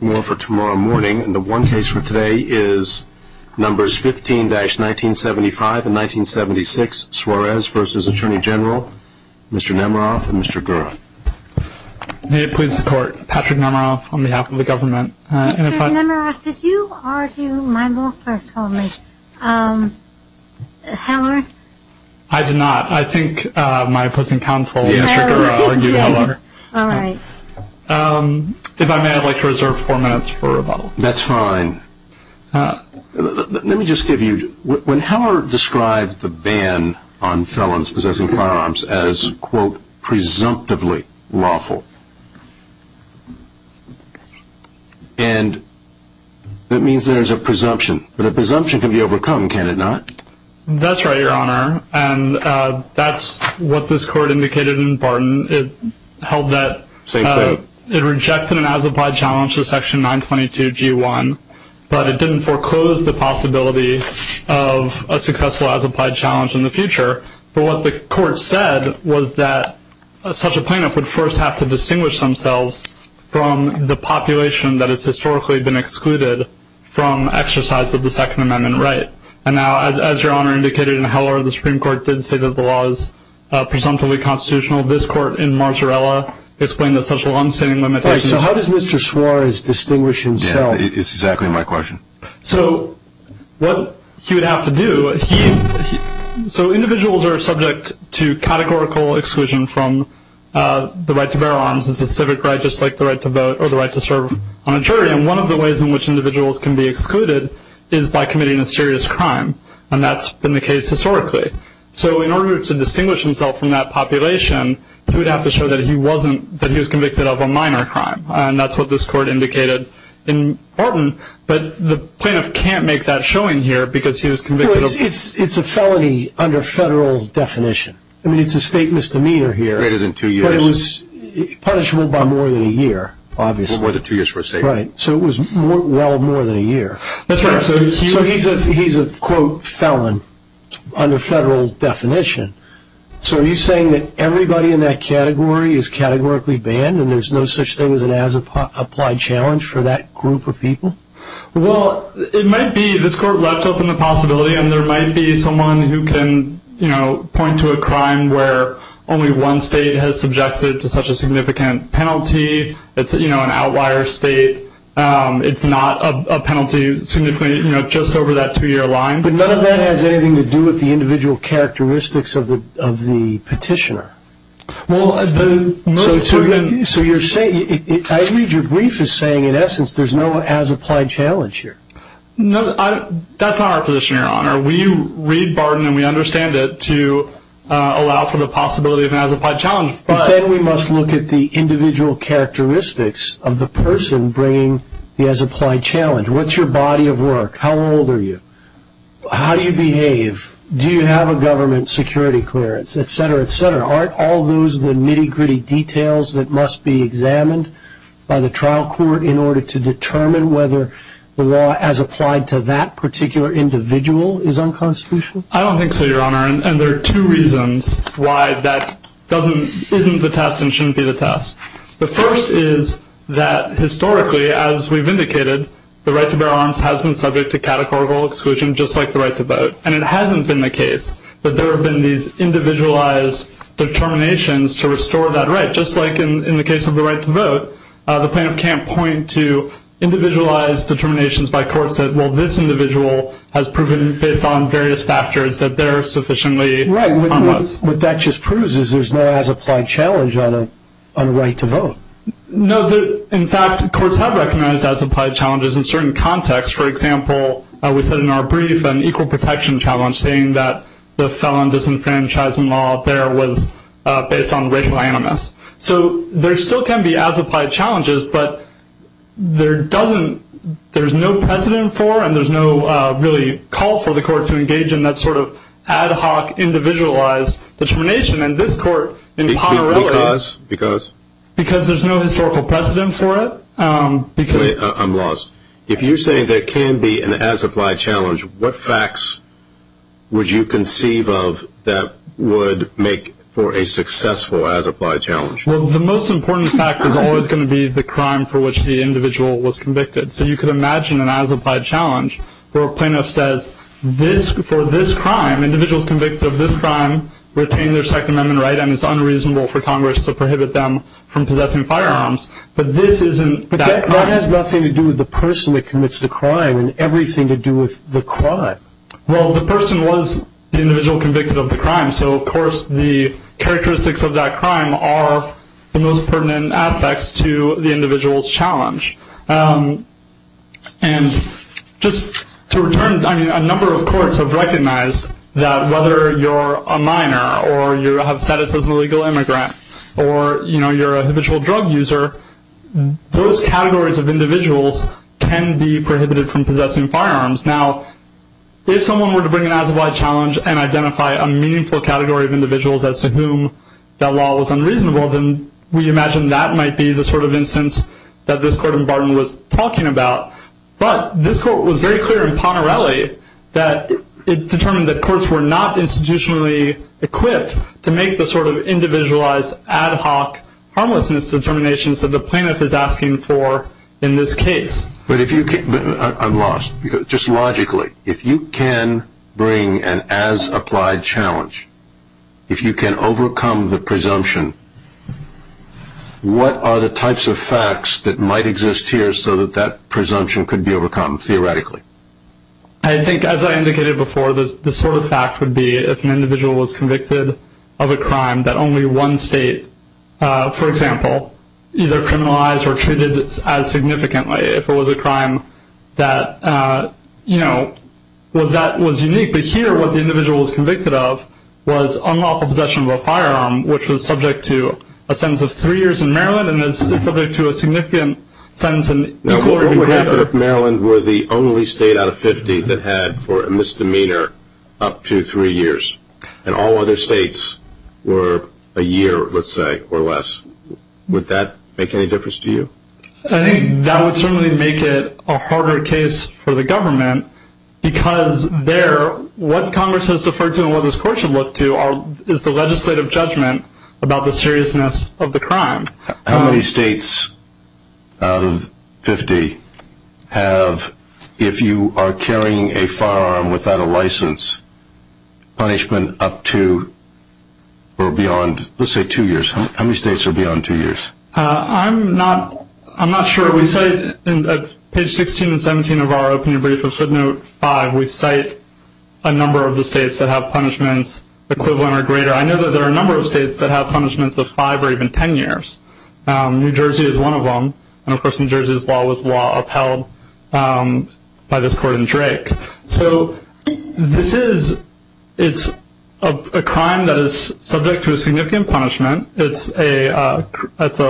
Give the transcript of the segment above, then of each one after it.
more for tomorrow morning and the one case for today is numbers 15-1975 and 1976 Suarez v. Attorney General Mr. Nemeroff and Mr. Gura. May it please the court Patrick Nemeroff on behalf of the government. Mr. Nemeroff did you argue my law firm told me, Heller? I did not I think my prison counsel. If I may I'd like to reserve four minutes for rebuttal. That's fine. Let me just give you, when Heller described the ban on felons possessing firearms as quote presumptively lawful and that means there's a presumption but a presumption can be overcome can it not. That's right the Supreme Court indicated in Barton it held that it rejected an as-applied challenge to section 922 g1 but it didn't foreclose the possibility of a successful as-applied challenge in the future but what the court said was that such a plaintiff would first have to distinguish themselves from the population that has historically been excluded from exercise of the Second Amendment right and now as your honor indicated in Heller the Supreme Court did say that the constitution of this court in Marzarella explained that such a long-standing limitation. So how does Mr. Suarez distinguish himself? It's exactly my question. So what he would have to do so individuals are subject to categorical exclusion from the right to bear arms as a civic right just like the right to vote or the right to serve on a jury and one of the ways in which individuals can be excluded is by committing a serious crime and that's been the case historically so in order to distinguish himself from that population he would have to show that he wasn't that he was convicted of a minor crime and that's what this court indicated in Barton but the plaintiff can't make that showing here because he was convicted. It's a felony under federal definition. I mean it's a state misdemeanor here. Greater than two years. But it was punishable by more than a year obviously. More than two years for a state misdemeanor. So it was well more than a year. That's right. So he's a quote felon under federal definition. So are you saying that everybody in that category is categorically banned and there's no such thing as an as-applied challenge for that group of people? Well it might be this court left open the possibility and there might be someone who can point to a crime where only one state has subjected to such a significant penalty. It's an outlier state. It's not a penalty just over that two year line. But none of that has anything to do with the individual characteristics of the petitioner. So you're saying, I read your brief as saying in essence there's no as-applied challenge here. That's not our position your honor. We read Barton and we understand it to allow for the possibility of an as-applied challenge. But then we must look at the individual characteristics of the person bringing the as-applied challenge. What's your body of work? How old are you? How do you behave? Do you have a government security clearance? Et cetera, et cetera. So are all those the nitty gritty details that must be examined by the trial court in order to determine whether the law as applied to that particular individual is unconstitutional? I don't think so your honor. And there are two reasons why that isn't the test and shouldn't be the test. The first is that historically, as we've indicated, the right to bear arms has been subject to categorical exclusion just like the right to vote. And it hasn't been the case that there have been these individualized determinations to restore that right. Just like in the case of the right to vote, the plaintiff can't point to individualized determinations by courts that, well, this individual has proven based on various factors that they're sufficiently unlawful. Right. What that just proves is there's no as-applied challenge on a right to vote. No. In fact, courts have recognized as-applied challenges in certain contexts. For example, we said in our brief an equal protection challenge saying that the felon disenfranchisement law there was based on racial animus. So there still can be as-applied challenges, but there's no precedent for and there's no really call for the court to engage in that sort of ad hoc individualized determination. And this court in Poterelli, because there's no historical precedent for it, because I'm lost. If you're saying there can be an as-applied challenge, what facts would you conceive of that would make for a successful as-applied challenge? Well, the most important fact is always going to be the crime for which the individual was convicted. So you could imagine an as-applied challenge where a plaintiff says, for this crime, individuals convicted of this crime retain their Second Amendment right and it's unreasonable for Congress to prohibit them from possessing firearms. But that has nothing to do with the person that commits the crime and everything to do with the crime. Well, the person was the individual convicted of the crime. So, of course, the characteristics of that crime are the most pertinent aspects to the individual's challenge. And just to return, I mean, a number of courts have recognized that whether you're a minor or you have status as an illegal immigrant or, you know, you're a habitual drug user, those categories of individuals can be prohibited from possessing firearms. Now, if someone were to bring an as-applied challenge and identify a meaningful category of individuals as to whom that law was unreasonable, then we imagine that might be the sort of instance that this court in Barton was talking about. But this court was very clear in Ponerelli that it determined that courts were not institutionally equipped to make the sort of individualized, ad hoc, harmlessness determinations that the plaintiff is asking for in this case. But if you can... I'm lost. Just logically, if you can bring an as-applied challenge, if you can overcome the presumption, what are the types of facts that might exist here so that that presumption could be overcome theoretically? I think, as I indicated before, the sort of fact would be if an individual was convicted of a crime that only one state, for example, either criminalized or treated as significantly. If it was a crime that, you know, was unique. But here, what the individual was convicted of was unlawful possession of a firearm, which was subject to a sentence of three years in Maryland and is subject to a significant sentence in equal or even greater... If Maryland were the only state out of 50 that had, for a misdemeanor, up to three years, and all other states were a year, let's say, or less, would that make any difference to you? I think that would certainly make it a harder case for the government because there, what Congress has deferred to and what this court should look to is the legislative judgment about the seriousness of the crime. How many states out of 50 have, if you are carrying a firearm without a license, punishment up to or beyond, let's say, two years? How many states are beyond two years? I'm not sure. We say, at page 16 and 17 of our opening brief of footnote 5, we cite a number of the states that have punishments equivalent or greater. I know that there are a number of states that have punishments of five or even ten years. New Jersey is one of them, and of course, New Jersey's law was law upheld by this court in Drake. So this is a crime that is subject to a significant punishment. It's a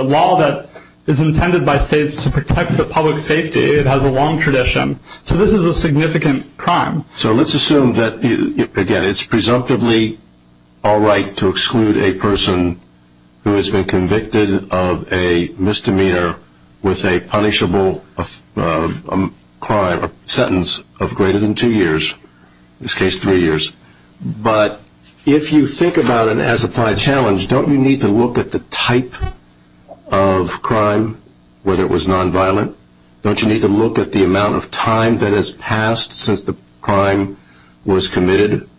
law that is intended by states to protect the public's safety. It has a long tradition. So this is a significant crime. So let's assume that, again, it's presumptively all right to exclude a person who has been convicted of a misdemeanor with a punishable crime or sentence of greater than two years, in this case, three years, but if you think about it as applied challenge, don't you need to look at the type of crime, whether it was nonviolent? Don't you need to look at the amount of time that has passed since the crime was committed?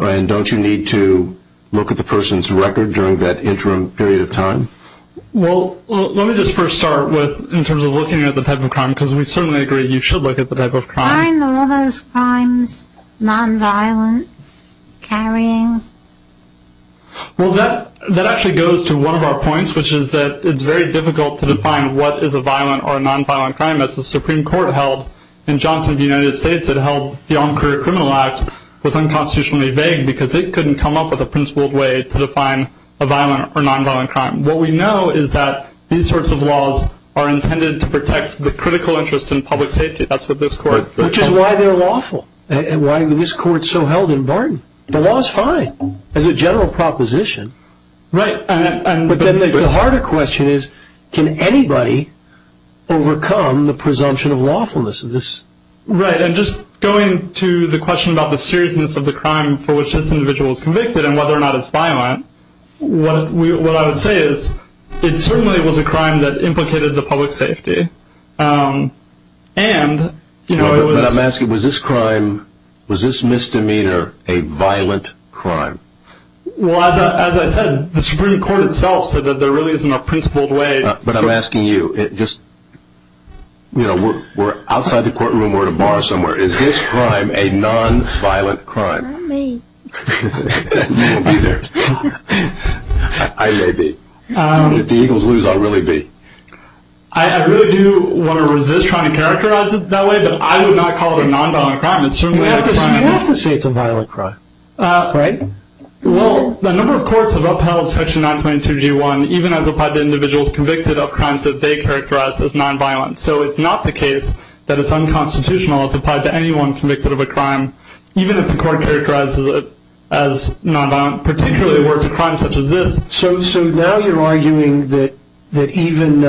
And don't you need to look at the person's record during that interim period of time? Well, let me just first start with, in terms of looking at the type of crime, because we certainly agree you should look at the type of crime. I know those crimes, nonviolent, carrying. Well, that actually goes to one of our points, which is that it's very difficult to define what is a violent or nonviolent crime. As the Supreme Court held in Johnson v. United States, it held the On Career Criminal Act was unconstitutionally vague because it couldn't come up with a principled way to define a violent or nonviolent crime. What we know is that these sorts of laws are intended to protect the critical interest in public safety. That's what this court... Which is why they're lawful, and why this court so held in Barton. The law is fine, as a general proposition, but the harder question is, can anybody overcome the presumption of lawfulness of this? Right, and just going to the question about the seriousness of the crime for which this individual was convicted and whether or not it's violent, what I would say is, it certainly was a crime that implicated the public safety. I'm asking, was this crime, was this misdemeanor, a violent crime? Well, as I said, the Supreme Court itself said that there really isn't a principled way... But I'm asking you, just, you know, we're outside the courtroom, we're at a bar somewhere, is this crime a nonviolent crime? I may be. You may be there. I may be. If the Eagles lose, I'll really be. I really do want to resist trying to characterize it that way, but I would not call it a nonviolent crime. You have to say it's a violent crime, right? Well, the number of courts have upheld section 922G1, even as applied to individuals convicted of crimes that they characterized as nonviolent. So it's not the case that it's unconstitutional as applied to anyone convicted of a crime, even if the court characterizes it as nonviolent, particularly if it were a crime such as this. So now you're arguing that even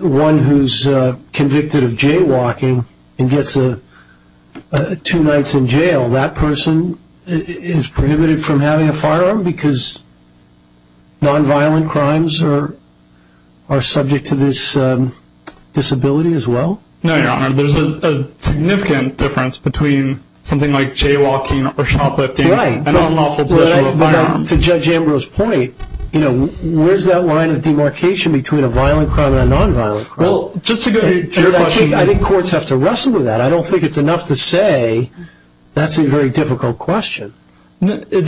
one who's convicted of jaywalking and gets two nights in jail, that person is prohibited from having a firearm because nonviolent crimes are subject to this disability as well? No, Your Honor, there's a significant difference between something like jaywalking or shoplifting and an unlawful possession of a firearm. To Judge Ambrose's point, where's that line of demarcation between a violent crime and a nonviolent crime? Well, just to go to your question, I think courts have to wrestle with that. I don't think it's enough to say that's a very difficult question. The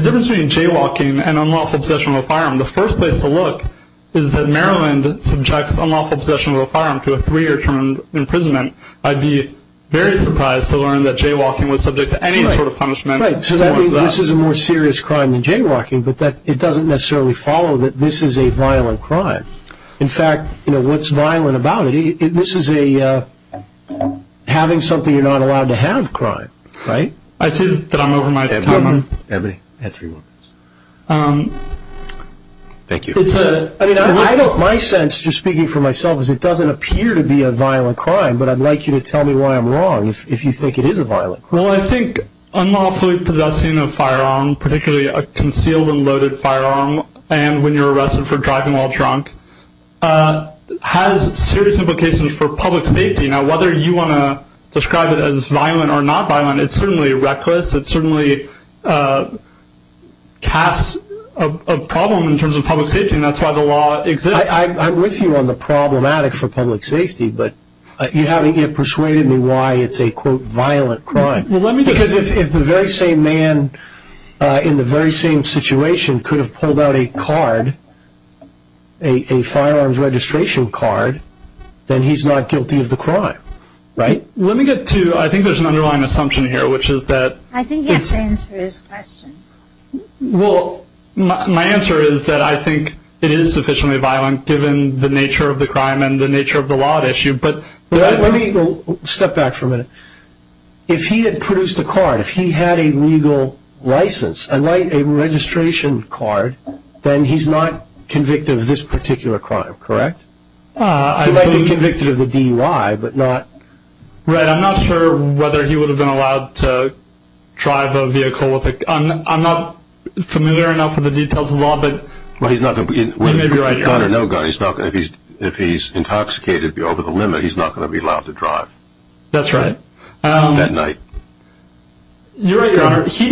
difference between jaywalking and unlawful possession of a firearm, the first place to look is that Maryland subjects unlawful possession of a firearm to a three-year term imprisonment. I'd be very surprised to learn that jaywalking was subject to any sort of punishment. Right, so that means this is a more serious crime than jaywalking, but it doesn't necessarily follow that this is a violent crime. In fact, what's violent about it, this is a having something you're not allowed to have crime, right? I said that I'm over my time, I'm at three minutes. Thank you. My sense, just speaking for myself, is it doesn't appear to be a violent crime, but I'd like you to tell me why I'm wrong if you think it is a violent crime. Well, I think unlawfully possessing a firearm, particularly a concealed and loaded firearm, and when you're arrested for driving while drunk, has serious implications for public safety. Now, whether you want to describe it as violent or not violent, it's certainly reckless, it certainly casts a problem in terms of public safety, and that's why the law exists. I'm with you on the problematic for public safety, but you haven't yet persuaded me why it's a quote violent crime. Because if the very same man in the very same situation could have pulled out a card, a firearms registration card, then he's not guilty of the crime, right? Let me get to, I think there's an underlying assumption here, which is that... I think yes, the answer is question. Well, my answer is that I think it is sufficiently violent given the nature of the crime and the nature of the law at issue, but... Let me step back for a minute. If he had produced a card, if he had a legal license, a registration card, then he's not convicted of this particular crime, correct? He might be convicted of the DUI, but not... Right, I'm not sure whether he would have been allowed to drive a vehicle with a gun. I'm not familiar enough with the details of the law, but... Well, he's not going to be... You may be right, Your Honor. Gun or no gun, if he's intoxicated, be over the limit, he's not going to be allowed to drive. That's right. At night. You're right, Your Honor. He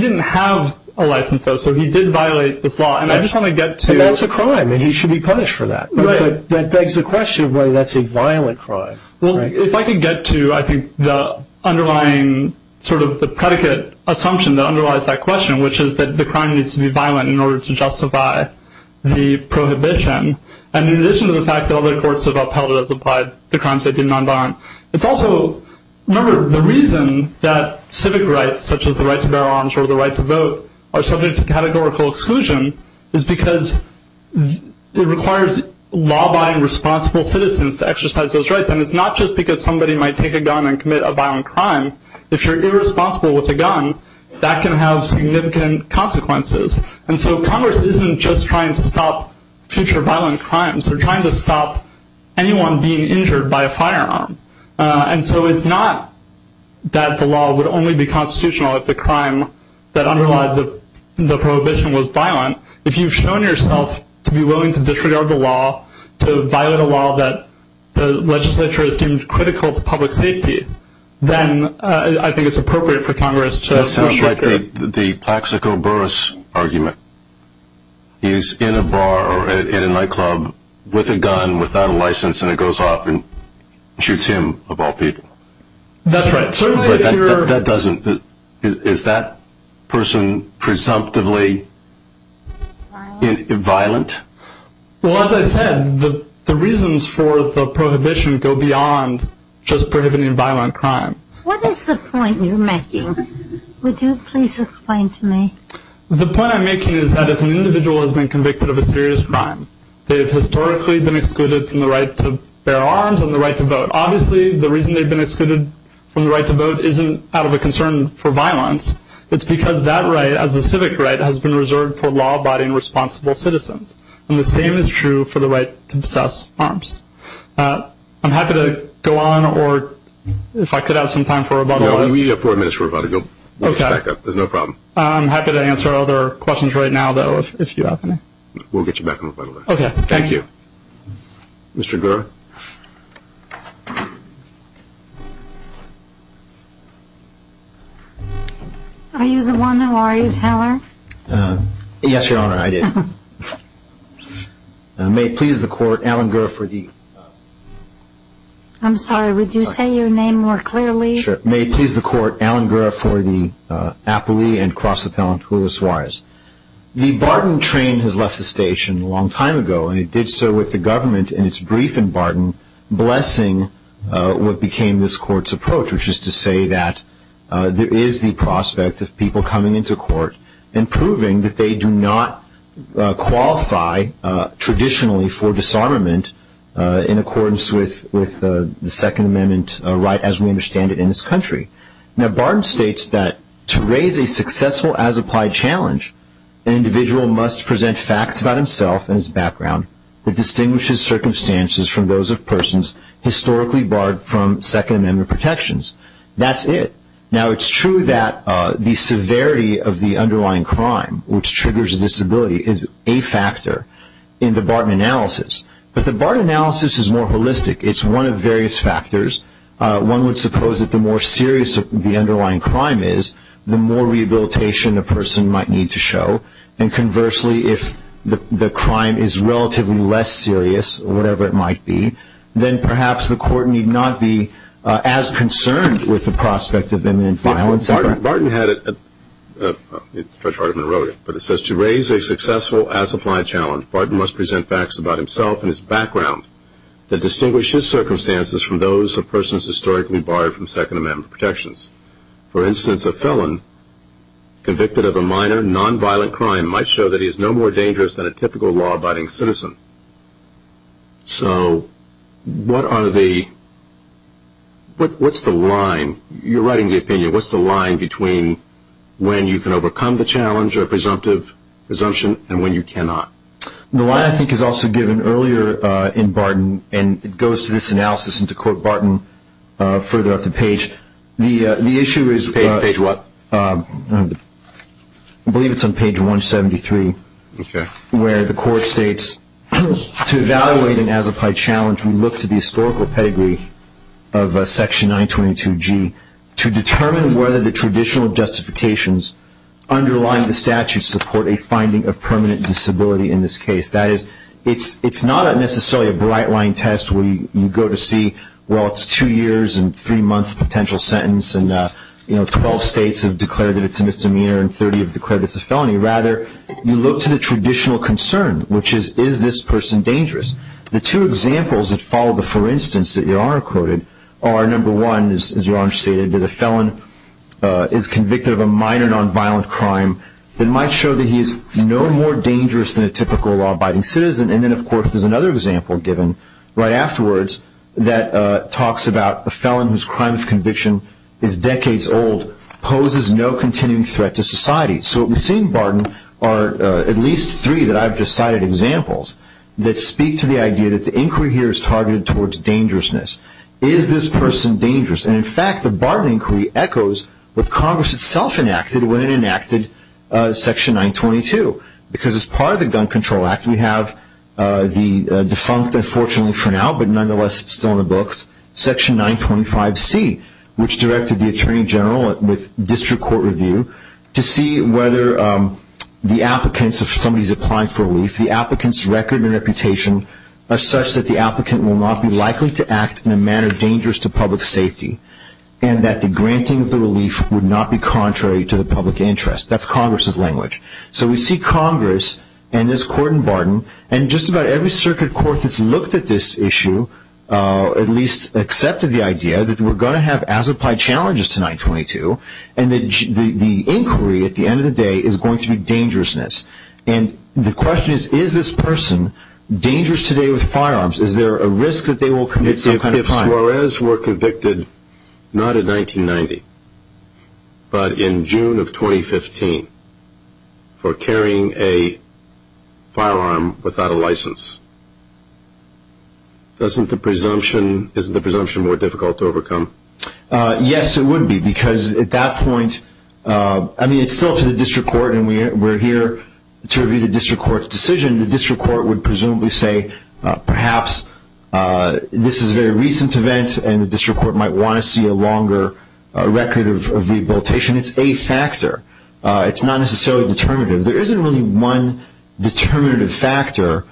didn't have a license, though, so he did violate this law, and I just want to get to... But that's a crime, and he should be punished for that. Right. But that begs the question of whether that's a violent crime. Well, if I can get to, I think, the underlying sort of the predicate assumption that underlies that question, which is that the crime needs to be violent in order to justify the prohibition, and in addition to the fact that other courts have upheld it as implied, the crimes that did non-violent. It's also, remember, the reason that civic rights, such as the right to bear arms or the right to vote, are subject to categorical exclusion is because it requires law-abiding, responsible citizens to exercise those rights, and it's not just because somebody might take a gun and commit a violent crime. If you're irresponsible with a gun, that can have significant consequences, and so Congress isn't just trying to stop future violent crimes. They're trying to stop anyone being injured by a firearm, and so it's not that the law would only be constitutional if the crime that underlied the prohibition was violent. If you've shown yourself to be willing to disregard the law, to violate a law that the legislature has deemed critical to public safety, then I think it's appropriate for Congress to... That sounds like the Plaxico Burris argument. He's in a bar or in a nightclub with a gun, without a license, and it goes off and shoots him, of all people. That's right. Certainly, if you're... That doesn't... Is that person presumptively violent? Well, as I said, the reasons for the prohibition go beyond just prohibiting violent crime. What is the point you're making? Would you please explain to me? The point I'm making is that if an individual has been convicted of a serious crime, they've historically been excluded from the right to bear arms and the right to vote. Obviously, the reason they've been excluded from the right to vote isn't out of a concern for violence. It's because that right, as a civic right, has been reserved for law-abiding, responsible citizens. The same is true for the right to possess arms. I'm happy to go on, or if I could have some time for rebuttal. No, we have four minutes for rebuttal. You can back up. There's no problem. I'm happy to answer other questions right now, though, if you have any. We'll get you back on rebuttal then. Okay. Thank you. Mr. Gura? Are you the one who argued, Heller? Yes, Your Honor, I did. May it please the Court, Alan Gura for the... I'm sorry, would you say your name more clearly? Sure. May it please the Court, Alan Gura for the appellee and cross-appellant, Julio Suarez. The Barton train has left the station a long time ago, and it did so with the government in its brief in Barton, blessing what became this Court's approach, which is to say that there is the prospect of people coming into court and proving that they do not qualify traditionally for disarmament in accordance with the Second Amendment right as we understand it in this country. Now, Barton states that to raise a successful as-applied challenge, an individual must present facts about himself and his background that distinguishes circumstances from those of persons historically barred from Second Amendment protections. That's it. Now, it's true that the severity of the underlying crime, which triggers a disability, is a factor in the Barton analysis, but the Barton analysis is more holistic. It's one of various factors. One would suppose that the more serious the underlying crime is, the more rehabilitation a person might need to show, and conversely, if the crime is relatively less serious, whatever it might be, then perhaps the Court need not be as concerned with the prospect of imminent violence. Barton had it, Judge Hardiman wrote it, but it says to raise a successful as-applied challenge, Barton must present facts about himself and his background that distinguish his circumstances from those of persons historically barred from Second Amendment protections. For instance, a felon convicted of a minor non-violent crime might show that he is no more dangerous than a typical law-abiding citizen. So, what are the, what's the line, you're writing the opinion, what's the line between when you can overcome the challenge or presumptive presumption, and when you cannot? The line, I think, is also given earlier in Barton, and it goes to this analysis, and to quote Barton, further up the page. The issue is, I believe it's on page 173, where the Court states, to evaluate an as-applied challenge, we look to the historical pedigree of Section 922G to determine whether the traditional justifications underlying the statute support a finding of permanent disability in this case. That is, it's not necessarily a bright-line test where you go to see, well, it's two years and three months potential sentence, and, you know, 12 states have declared that it's a misdemeanor and 30 have declared it's a felony. Rather, you look to the traditional concern, which is, is this person dangerous? The two examples that follow the for-instance that Your Honor quoted are, number one, as Your Honor stated, that a felon is convicted of a minor non-violent crime that might show that he is no more dangerous than a typical law-abiding citizen. And then, of course, there's another example given right afterwards that talks about a felon whose crime of conviction is decades old, poses no continuing threat to society. So what we've seen, Barton, are at least three that I've just cited examples that speak to the idea that the inquiry here is targeted towards dangerousness. Is this person dangerous? And, in fact, the Barton inquiry echoes what Congress itself enacted when it enacted Section 922, because as part of the Gun Control Act, we have the defunct, unfortunately for now, but nonetheless still in the books, Section 925C, which directed the Attorney General with district court review to see whether the applicants, if somebody's applying for relief, the applicant's record and reputation are such that the applicant will not be likely to act in a manner dangerous to public safety, and that the granting of the relief would not be contrary to the public interest. That's Congress's language. So we see Congress and this Court in Barton, and just about every circuit court that's looked at this issue, at least accepted the idea that we're going to have as-applied challenges to 922, and that the inquiry, at the end of the day, is going to be dangerousness. And the question is, is this person dangerous today with firearms? Is there a risk that they will commit some kind of crime? If Suarez were convicted, not in 1990, but in June of 2015, for carrying a firearm without a license, isn't the presumption more difficult to overcome? Yes, it would be, because at that point, I mean, it's still up to the district court, and we're here to review the district court's decision. The district court would presumably say, perhaps this is a very recent event, and the district court might want to see a longer record of rehabilitation. It's a factor. It's not necessarily determinative. There isn't really one determinative factor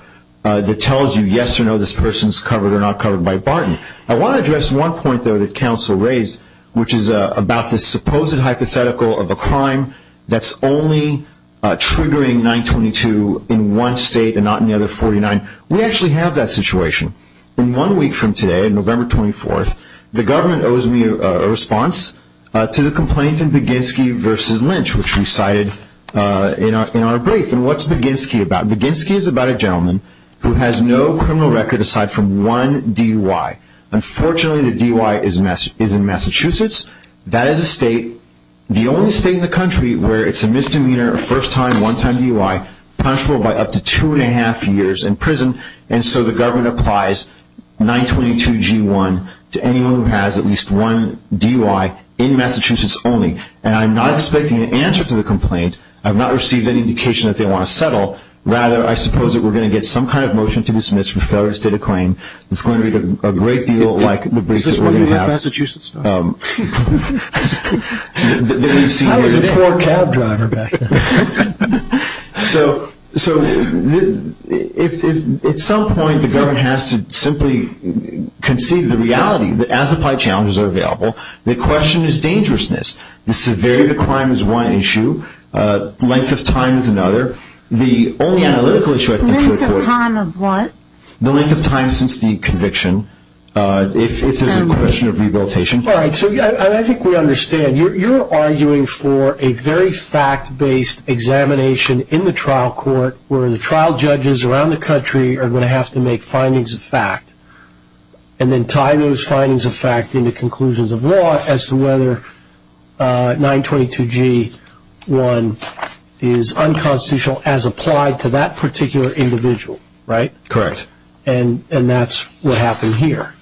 that tells you yes or no, this person's covered or not covered by Barton. I want to address one point, though, that counsel raised, which is about this supposed hypothetical of a crime that's only triggering 922 in one state and not in the other 49. We actually have that situation. In one week from today, November 24th, the government owes me a response to the complaint in Baginski v. Lynch, which we cited in our brief. And what's Baginski about? Baginski is about a gentleman who has no criminal record aside from one DUI. Unfortunately, the DUI is in Massachusetts. That is a state, the only state in the country, where it's a misdemeanor, a first-time, one-time DUI, punishable by up to two and a half years in prison. And so the government applies 922 G1 to anyone who has at least one DUI in Massachusetts only. And I'm not expecting an answer to the complaint. I've not received any indication that they want to settle. Rather, I suppose that we're going to get some kind of motion to dismiss for failure to state a claim. It's going to be a great deal like the briefs that we're going to have. Is this one you have in Massachusetts now? That we've seen here today? I was a poor cab driver back then. So at some point, the government has to simply conceive the reality that as-applied challenges are available, the question is dangerousness. The severity of the crime is one issue. Length of time is another. The only analytical issue, I think, is the length of time since the conviction, if there's a question of rehabilitation. All right. So I think we understand. You're arguing for a very fact-based examination in the trial court, where the trial judges around the country are going to have to make findings of fact, and then tie those findings of fact into conclusions of law as to whether 922G1 is unconstitutional as applied to that particular individual, right? Correct. And that's what happened here.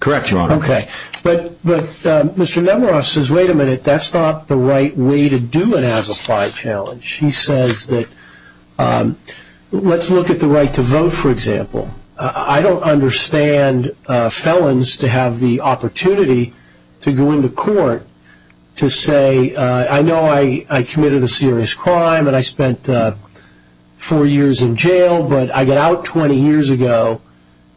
Correct, Your Honor. Okay. But Mr. Nemeroff says, wait a minute. That's not the right way to do an as-applied challenge. He says that, let's look at the right to vote, for example. I don't understand felons to have the opportunity to go into court to say, I know I committed a serious crime, and I spent four years in jail, but I got out 20 years ago,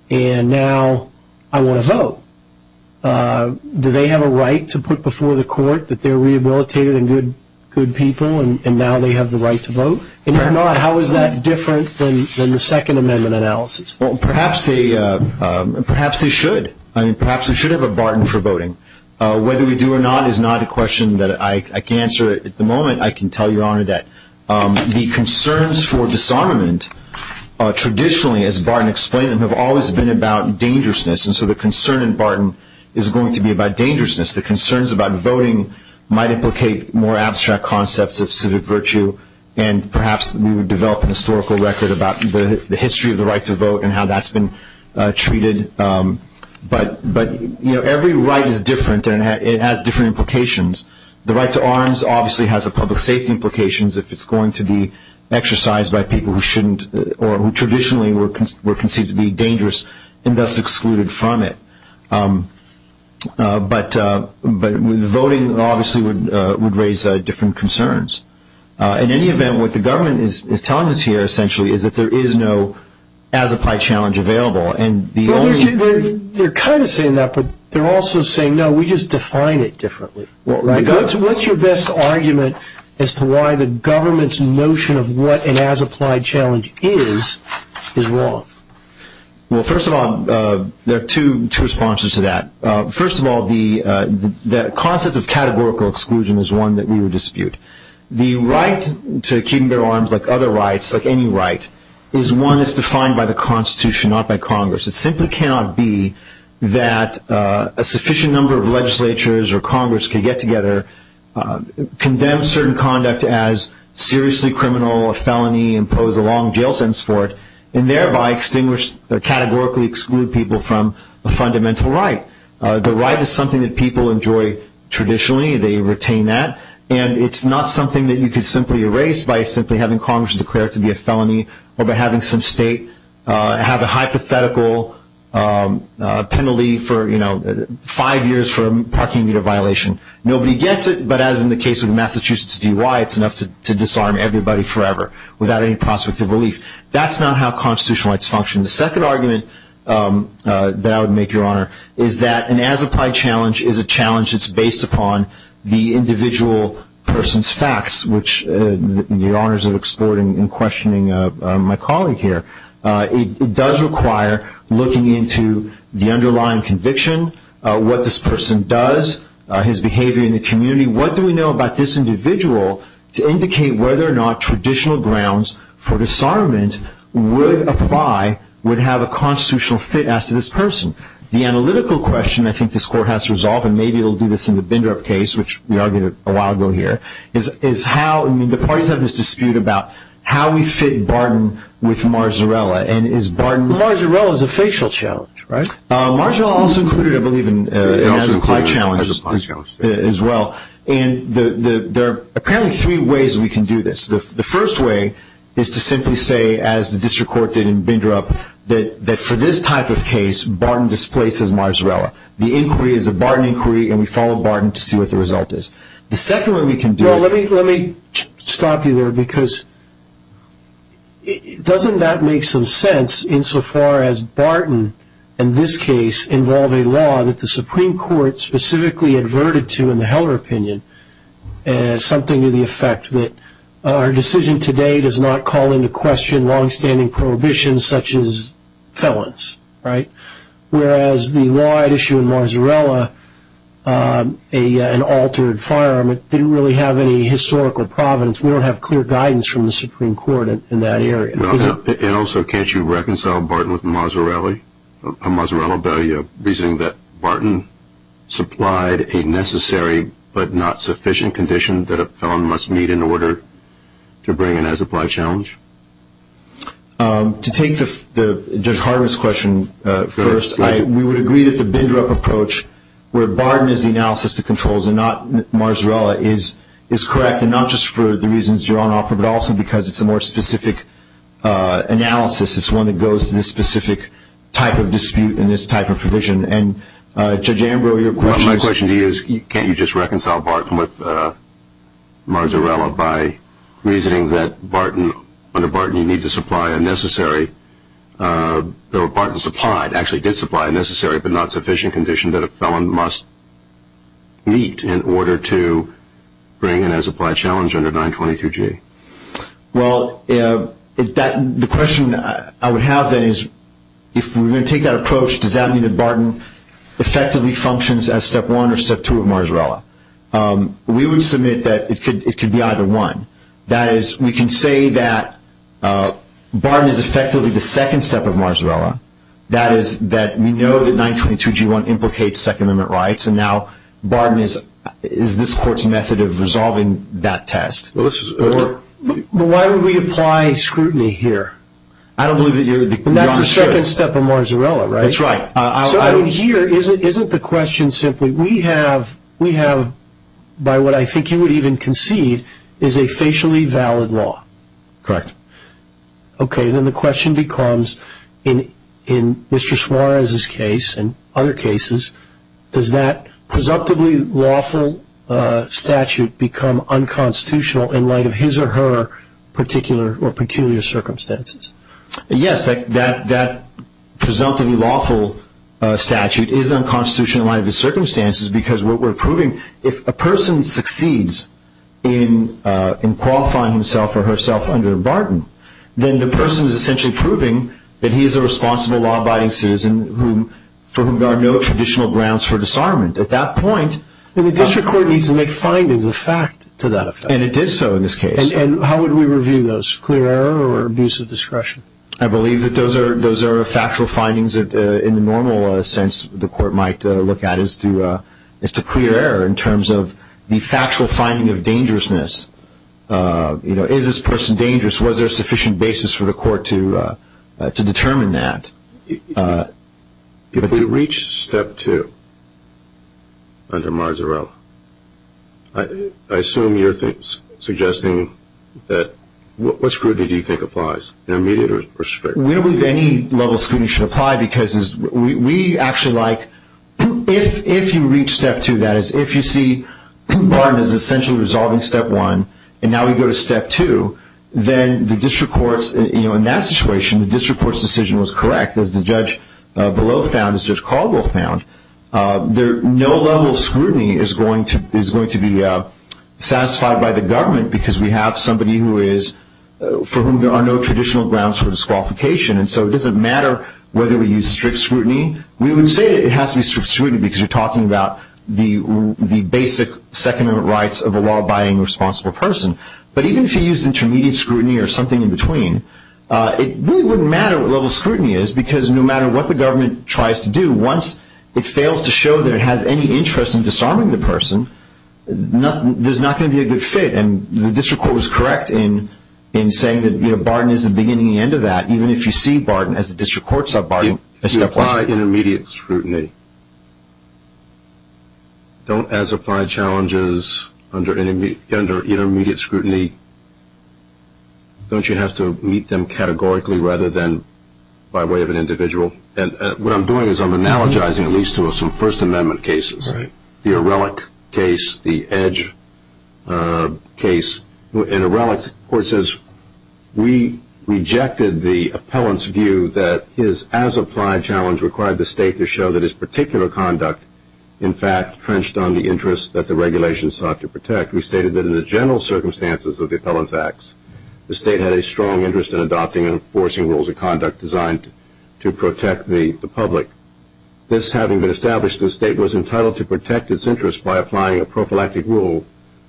and now I want to vote. Do they have a right to put before the court that they're rehabilitated and good people, and now they have the right to vote? And if not, how is that different than the Second Amendment analysis? Perhaps they should. I mean, perhaps we should have a barden for voting. Whether we do or not is not a question that I can answer at the moment. I can tell you, Your Honor, that the concerns for disarmament are traditionally, as Barton explained, have always been about dangerousness. And so the concern in Barton is going to be about dangerousness. The concerns about voting might implicate more abstract concepts of civic virtue, and how that's been treated. But every right is different, and it has different implications. The right to arms obviously has a public safety implications if it's going to be exercised by people who traditionally were conceived to be dangerous and thus excluded from it. But voting obviously would raise different concerns. In any event, what the government is telling us here, essentially, is that there is no, as-applied challenge available. They're kind of saying that, but they're also saying, no, we just define it differently. What's your best argument as to why the government's notion of what an as-applied challenge is, is wrong? Well, first of all, there are two responses to that. First of all, the concept of categorical exclusion is one that we would dispute. The right to keeping their arms, like other rights, like any right, is one that's defined by the Constitution, not by Congress. It simply cannot be that a sufficient number of legislatures or Congress could get together, condemn certain conduct as seriously criminal, a felony, impose a long jail sentence for it, and thereby categorically exclude people from a fundamental right. The right is something that people enjoy traditionally. They retain that. And it's not something that you could simply erase by simply having Congress declare it to be a felony or by having some state have a hypothetical penalty for, you know, five years for a parking meter violation. Nobody gets it. But as in the case of the Massachusetts DUI, it's enough to disarm everybody forever without any prospect of relief. That's not how constitutional rights function. The second argument that I would make, Your Honor, is that an as-applied challenge is a challenge that's based upon the individual person's facts, which the honors of exploring and questioning my colleague here, it does require looking into the underlying conviction, what this person does, his behavior in the community. What do we know about this individual to indicate whether or not traditional grounds for disarmament would apply, would have a constitutional fit as to this person? The analytical question I think this Court has to resolve, and maybe it'll do this in the Bindrup case, which we argued a while ago here, is how, I mean, the parties have this dispute about how we fit Barton with Marzarella. And is Barton— Marzarella is a facial challenge, right? Marzarella also included, I believe, an as-applied challenge as well. And there are apparently three ways we can do this. The first way is to simply say, as the district court did in Bindrup, that for this type of displace is Marzarella. The inquiry is a Barton inquiry, and we follow Barton to see what the result is. The second way we can do it— No, let me stop you there, because doesn't that make some sense insofar as Barton and this case involve a law that the Supreme Court specifically adverted to in the Heller opinion, and something to the effect that our decision today does not call into question longstanding prohibitions such as felons, right? Whereas the law at issue in Marzarella, an altered firearm, it didn't really have any historical providence. We don't have clear guidance from the Supreme Court in that area. And also, can't you reconcile Barton with Marzarella, a Marzarella value, reasoning that Barton supplied a necessary but not sufficient condition that a felon must meet in order to bring an as-applied challenge? To take Judge Harman's question first, we would agree that the Bindrup approach, where Barton is the analysis that controls and not Marzarella, is correct, and not just for the reasons you're on offer, but also because it's a more specific analysis. It's one that goes to this specific type of dispute and this type of provision. And Judge Ambrose, your question— My question to you is, can't you just reconcile Barton with Marzarella by reasoning that under Barton you need to supply a necessary—or Barton supplied, actually did supply a necessary but not sufficient condition that a felon must meet in order to bring an as-applied challenge under 922G? Well, the question I would have then is, if we're going to take that approach, does that mean that Barton effectively functions as step one or step two of Marzarella? We would submit that it could be either one. That is, we can say that Barton is effectively the second step of Marzarella. That is, that we know that 922G1 implicates Second Amendment rights, and now Barton is this Court's method of resolving that test. Why would we apply scrutiny here? I don't believe that you're— That's the second step of Marzarella, right? That's right. So here, isn't the question simply, we have, by what I think you would even concede, is a facially valid law? Correct. Okay, then the question becomes, in Mr. Suarez's case and other cases, does that presumptively lawful statute become unconstitutional in light of his or her particular or peculiar circumstances? Yes, that presumptively lawful statute is unconstitutional in light of his circumstances because what we're proving, if a person succeeds in qualifying himself or herself under Barton, then the person is essentially proving that he is a responsible, law-abiding citizen for whom there are no traditional grounds for disarmament. At that point— And the District Court needs to make findings of fact to that effect. And it did so in this case. And how would we review those? Clear error or abuse of discretion? I believe that those are factual findings that, in the normal sense, the Court might look at as to clear error in terms of the factual finding of dangerousness. Is this person dangerous? Was there sufficient basis for the Court to determine that? If we reach step two under Marzarella, I assume you're suggesting that— What scrutiny do you think applies? Immediate or strict? We don't believe any level of scrutiny should apply because we actually like— If you reach step two, that is, if you see Barton is essentially resolving step one, and now we go to step two, then the District Court's— In that situation, the District Court's decision was correct, as the judge below found, as Judge Caldwell found. No level of scrutiny is going to be satisfied by the government because we have somebody who is—for whom there are no traditional grounds for disqualification. And so it doesn't matter whether we use strict scrutiny. We would say it has to be strict scrutiny because you're talking about the basic Second Amendment rights of a law-abiding, responsible person. But even if you used intermediate scrutiny or something in between, it really wouldn't matter what level of scrutiny is because no matter what the government tries to do, once it fails to show that it has any interest in disarming the person, there's not going to be a good fit. And the District Court was correct in saying that Barton is the beginning and the end of that. Even if you see Barton, as the District Court saw Barton— If you apply intermediate scrutiny, don't, as applied challenges under intermediate scrutiny, don't you have to meet them categorically rather than by way of an individual? And what I'm doing is I'm analogizing at least to some First Amendment cases. Right. The Ehrlich case, the Edge case. And Ehrlich, of course, says we rejected the appellant's view that his as-applied challenge required the state to show that his particular conduct, in fact, trenched on the interests that the regulations sought to protect. We stated that in the general circumstances of the Appellant's Acts, the state had a strong interest in adopting and enforcing rules of conduct designed to protect the public. This having been established, the state was entitled to protect its interests by applying a prophylactic rule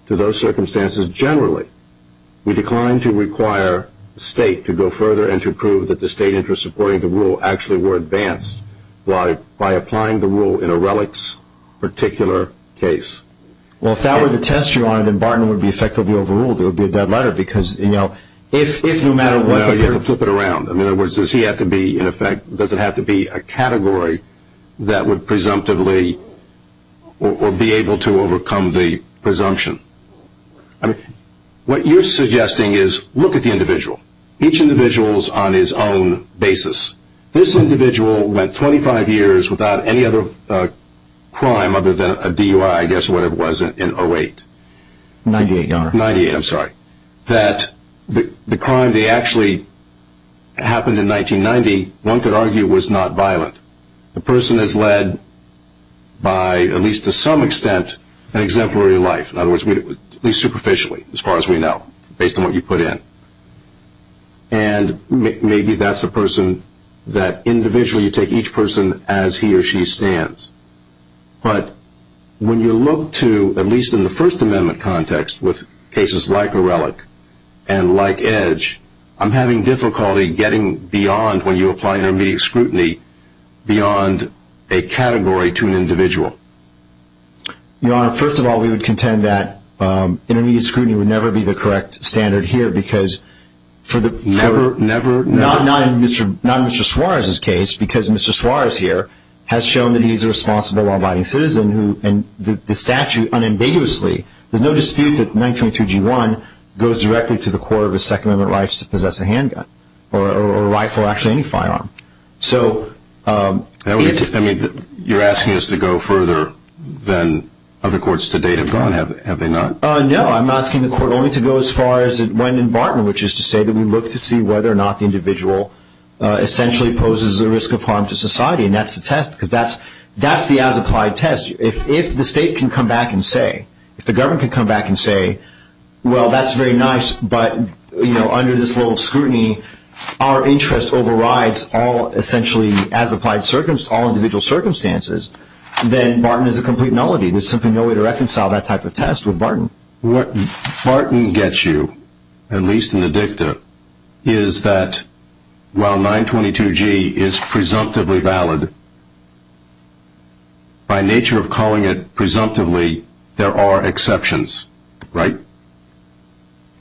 to those circumstances generally. We declined to require the state to go further and to prove that the state interests supporting the rule actually were advanced by applying the rule in Ehrlich's particular case. Well, if that were the test, Your Honor, then Barton would be effectively overruled. It would be a dead letter because, you know, if no matter what— No, you have to flip it around. In other words, does he have to be, in effect, does it have to be a category that would presumptively or be able to overcome the presumption? I mean, what you're suggesting is look at the individual. Each individual is on his own basis. This individual went 25 years without any other crime other than a DUI, I guess, whatever it was, in 08. 98, Your Honor. 98, I'm sorry. That the crime that actually happened in 1990, one could argue, was not violent. The person is led by, at least to some extent, an exemplary life. In other words, at least superficially, as far as we know, based on what you put in. And maybe that's a person that individually you take each person as he or she stands. But when you look to, at least in the First Amendment context, with cases like O'Reilly and like Edge, I'm having difficulty getting beyond, when you apply intermediate scrutiny, beyond a category to an individual. Your Honor, first of all, we would contend that intermediate scrutiny would never be the correct standard here because for the— Never, never, never? Not in Mr. Suarez's case, because Mr. Suarez here has shown that he's a responsible, law-abiding citizen who, and the statute unambiguously, there's no dispute that 1932G1 goes directly to the court of his Second Amendment rights to possess a handgun or a rifle or actually any firearm. So— I mean, you're asking us to go further than other courts to date have gone, have they not? No, I'm asking the court only to go as far as it went in Barton, which is to say that we look to see whether or not the individual essentially poses a risk of harm to society. And that's the test, because that's the as-applied test. If the state can come back and say, if the government can come back and say, well, that's very nice, but under this little scrutiny, our interest overrides all, essentially, as-applied circumstances, all individual circumstances, then Barton is a complete nullity. What Barton gets you, at least in the dicta, is that while 922G is presumptively valid, by nature of calling it presumptively, there are exceptions, right?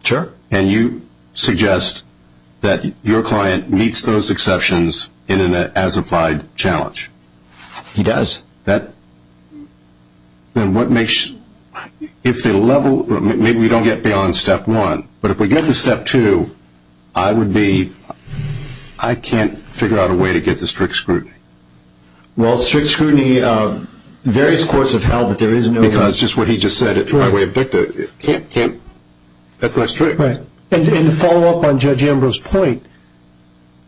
Sure. And you suggest that your client meets those exceptions in an as-applied challenge. He does. That, then what makes, if the level, maybe we don't get beyond step one, but if we get to step two, I would be, I can't figure out a way to get the strict scrutiny. Well, strict scrutiny, various courts have held that there is no- Because just what he just said, by way of dicta, can't, can't, that's not strict. Right. And to follow up on Judge Ambrose's point,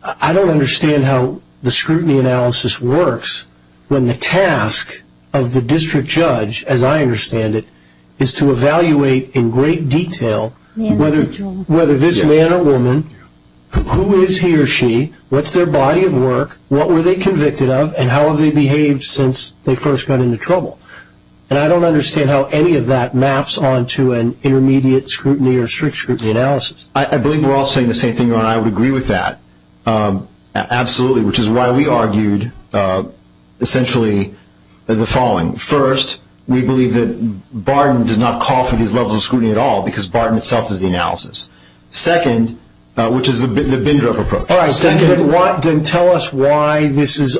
I don't understand how the scrutiny analysis works when the task of the district judge, as I understand it, is to evaluate in great detail whether this man or woman, who is he or she, what's their body of work, what were they convicted of, and how have they behaved since they first got into trouble. And I don't understand how any of that maps onto an intermediate scrutiny or strict scrutiny analysis. I believe we're all saying the same thing, Ron. I would agree with that. Absolutely. Which is why we argued, essentially, the following. First, we believe that Barton does not call for these levels of scrutiny at all, because Barton itself is the analysis. Second, which is the Bindrup approach. All right, then tell us why this is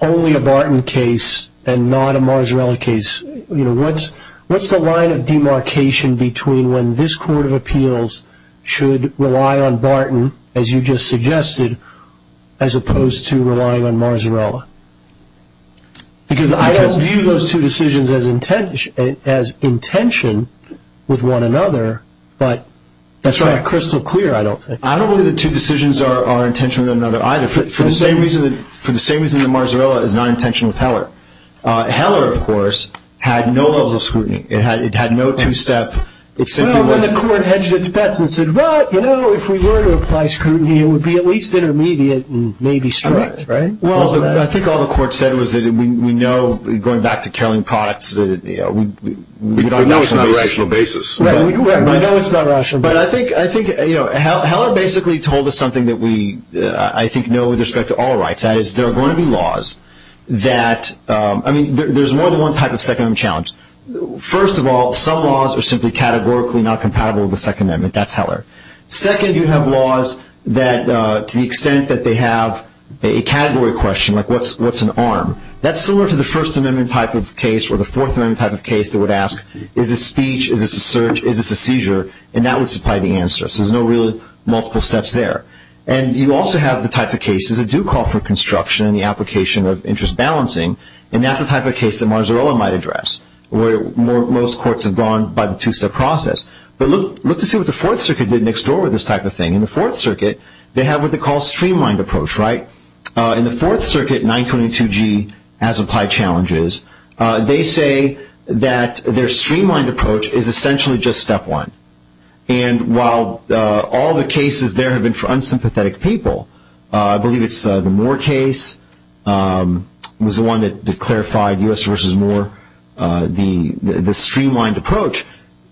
only a Barton case and not a Marsrella case. You know, what's, what's the line of demarcation between when this Court of Appeals should rely on Barton, as you just suggested, as opposed to relying on Marsrella? Because I don't view those two decisions as intention, as intention with one another, but that's crystal clear, I don't think. I don't believe the two decisions are intentional with another either, for the same reason, for the same reason the Marsrella is not intentional with Heller. Heller, of course, had no levels of scrutiny. It had, it had no two-step. Well, then the Court hedged its bets and said, well, you know, if we were to apply scrutiny, it would be at least intermediate and maybe strict, right? Well, I think all the Court said was that we know, going back to Caroline Products, that, you know, we don't know it's not rational basis. Right, we know it's not rational basis. But I think, I think, you know, Heller basically told us something that we, I think, know with respect to all rights. That is, there are going to be laws that, I mean, there's more than one type of second challenge. First of all, some laws are simply categorically not compatible with the Second Amendment. That's Heller. Second, you have laws that, to the extent that they have a category question, like what's, what's an arm, that's similar to the First Amendment type of case or the Fourth Amendment type of case that would ask, is this speech, is this a search, is this a seizure? And that would supply the answer. So there's no really multiple steps there. And you also have the type of cases that do call for construction and the application of interest balancing. And that's the type of case that Marzarella might address, where most courts have gone by the two-step process. But look, look to see what the Fourth Circuit did next door with this type of thing. In the Fourth Circuit, they have what they call streamlined approach, right? In the Fourth Circuit, 922G has applied challenges. They say that their streamlined approach is essentially just step one. And while all the cases there have been for unsympathetic people, I believe it's the Moore case was the one that clarified U.S. versus Moore, the streamlined approach,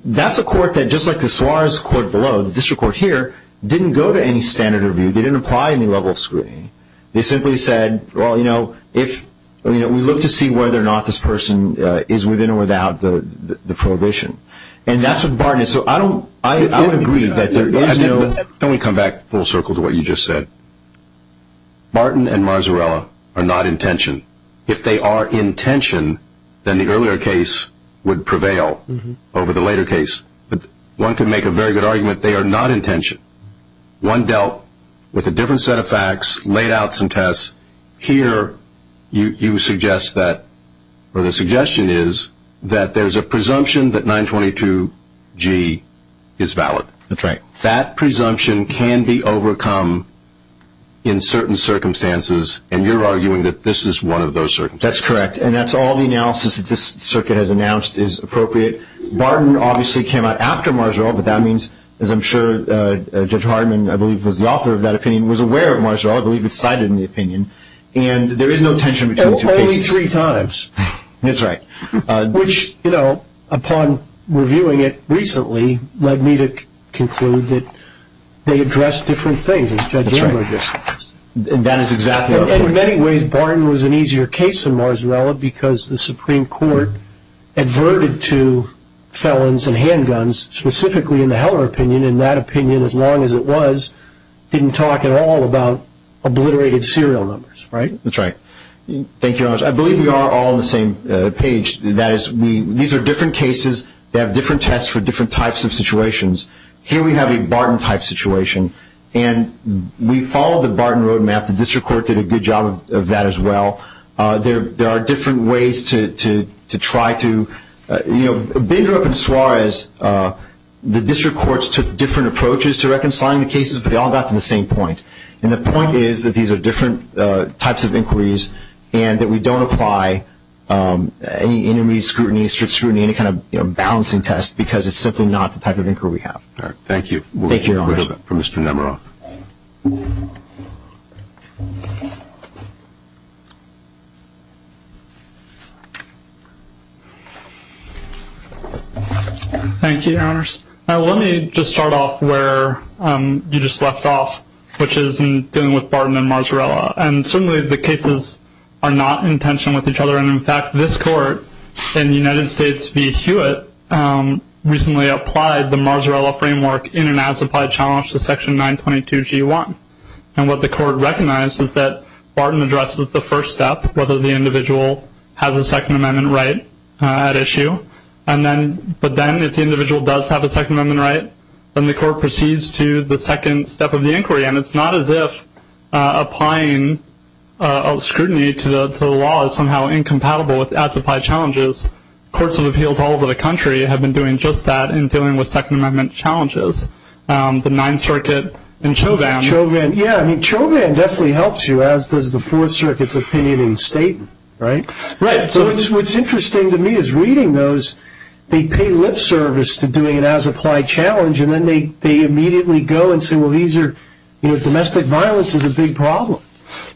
that's a court that, just like the Suarez court below, the district court here, didn't go to any standard review. They didn't apply any level of scrutiny. They simply said, well, you know, if, you know, we look to see whether or not this person is within or without the prohibition. And that's what Barton is. So I don't, I would agree that there is no— Can we come back full circle to what you just said? Martin and Marzarella are not in tension. If they are in tension, then the earlier case would prevail over the later case. But one could make a very good argument they are not in tension. One dealt with a different set of facts, laid out some tests. Here, you suggest that, or the suggestion is, that there's a presumption that 922G is valid. That's right. And can be overcome in certain circumstances. And you're arguing that this is one of those circumstances. That's correct. And that's all the analysis that this circuit has announced is appropriate. Barton obviously came out after Marzarella, but that means, as I'm sure Judge Hardeman, I believe, was the author of that opinion, was aware of Marzarella. I believe it's cited in the opinion. And there is no tension between the two cases. Only three times. That's right. Which, you know, upon reviewing it recently, led me to conclude that they addressed different things, as Judge Amber just did. That is exactly right. In many ways, Barton was an easier case than Marzarella, because the Supreme Court adverted to felons and handguns, specifically in the Heller opinion. And that opinion, as long as it was, didn't talk at all about obliterated serial numbers. Right? That's right. Thank you very much. I believe we are all on the same page. That is, these are different cases. They have different tests for different types of situations. Here we have a Barton-type situation. And we followed the Barton roadmap. The district court did a good job of that as well. There are different ways to try to, you know, Bindrup and Suarez, the district courts took different approaches to reconciling the cases, but they all got to the same point. And the point is that these are different types of inquiries, and that we don't apply any intermediate scrutiny, strict scrutiny, any kind of balancing test, because it's simply not the type of inquiry we have. All right. Thank you. Thank you, Your Honors. We'll hear from Mr. Nemeroff. Thank you, Your Honors. Let me just start off where you just left off, which is in dealing with Barton and Marzarella. And certainly the cases are not in tension with each other. In fact, this court in the United States v. Hewitt recently applied the Marzarella framework in and as applied challenge to Section 922G1. And what the court recognized is that Barton addresses the first step, whether the individual has a Second Amendment right at issue. But then if the individual does have a Second Amendment right, and it's not as if applying scrutiny to the law is somehow incompatible with as applied challenges, courts of appeals all over the country have been doing just that in dealing with Second Amendment challenges. The Ninth Circuit and Chauvin. Chauvin. Yeah. I mean, Chauvin definitely helps you, as does the Fourth Circuit's opinion in Staten, right? Right. So what's interesting to me is reading those, they pay lip service to doing an as applied challenge, and then they immediately go and say, well, domestic violence is a big problem.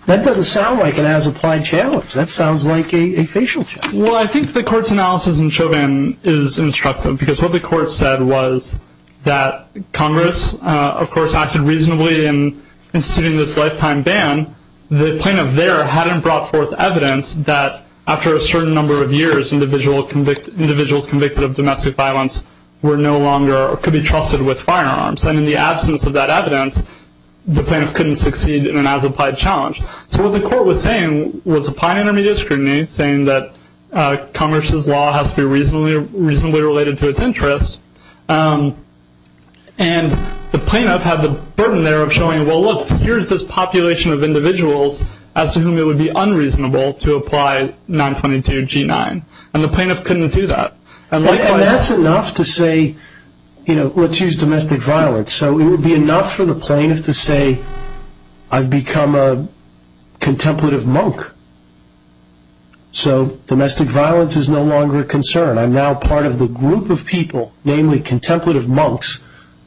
That doesn't sound like an as applied challenge. That sounds like a facial check. Well, I think the court's analysis in Chauvin is instructive, because what the court said was that Congress, of course, acted reasonably in instituting this lifetime ban. The plaintiff there hadn't brought forth evidence that after a certain number of years, individuals convicted of domestic violence could be trusted with firearms. And in the absence of that evidence, the plaintiff couldn't succeed in an as applied challenge. So what the court was saying was applying intermediate scrutiny, saying that Congress's law has to be reasonably related to its interests. And the plaintiff had the burden there of showing, well, look, here's this population of individuals as to whom it would be unreasonable to apply 922 G9. And the plaintiff couldn't do that. And that's enough to say, you know, let's use domestic violence. So it would be enough for the plaintiff to say, I've become a contemplative monk. So domestic violence is no longer a concern. I'm now part of the group of people, namely contemplative monks,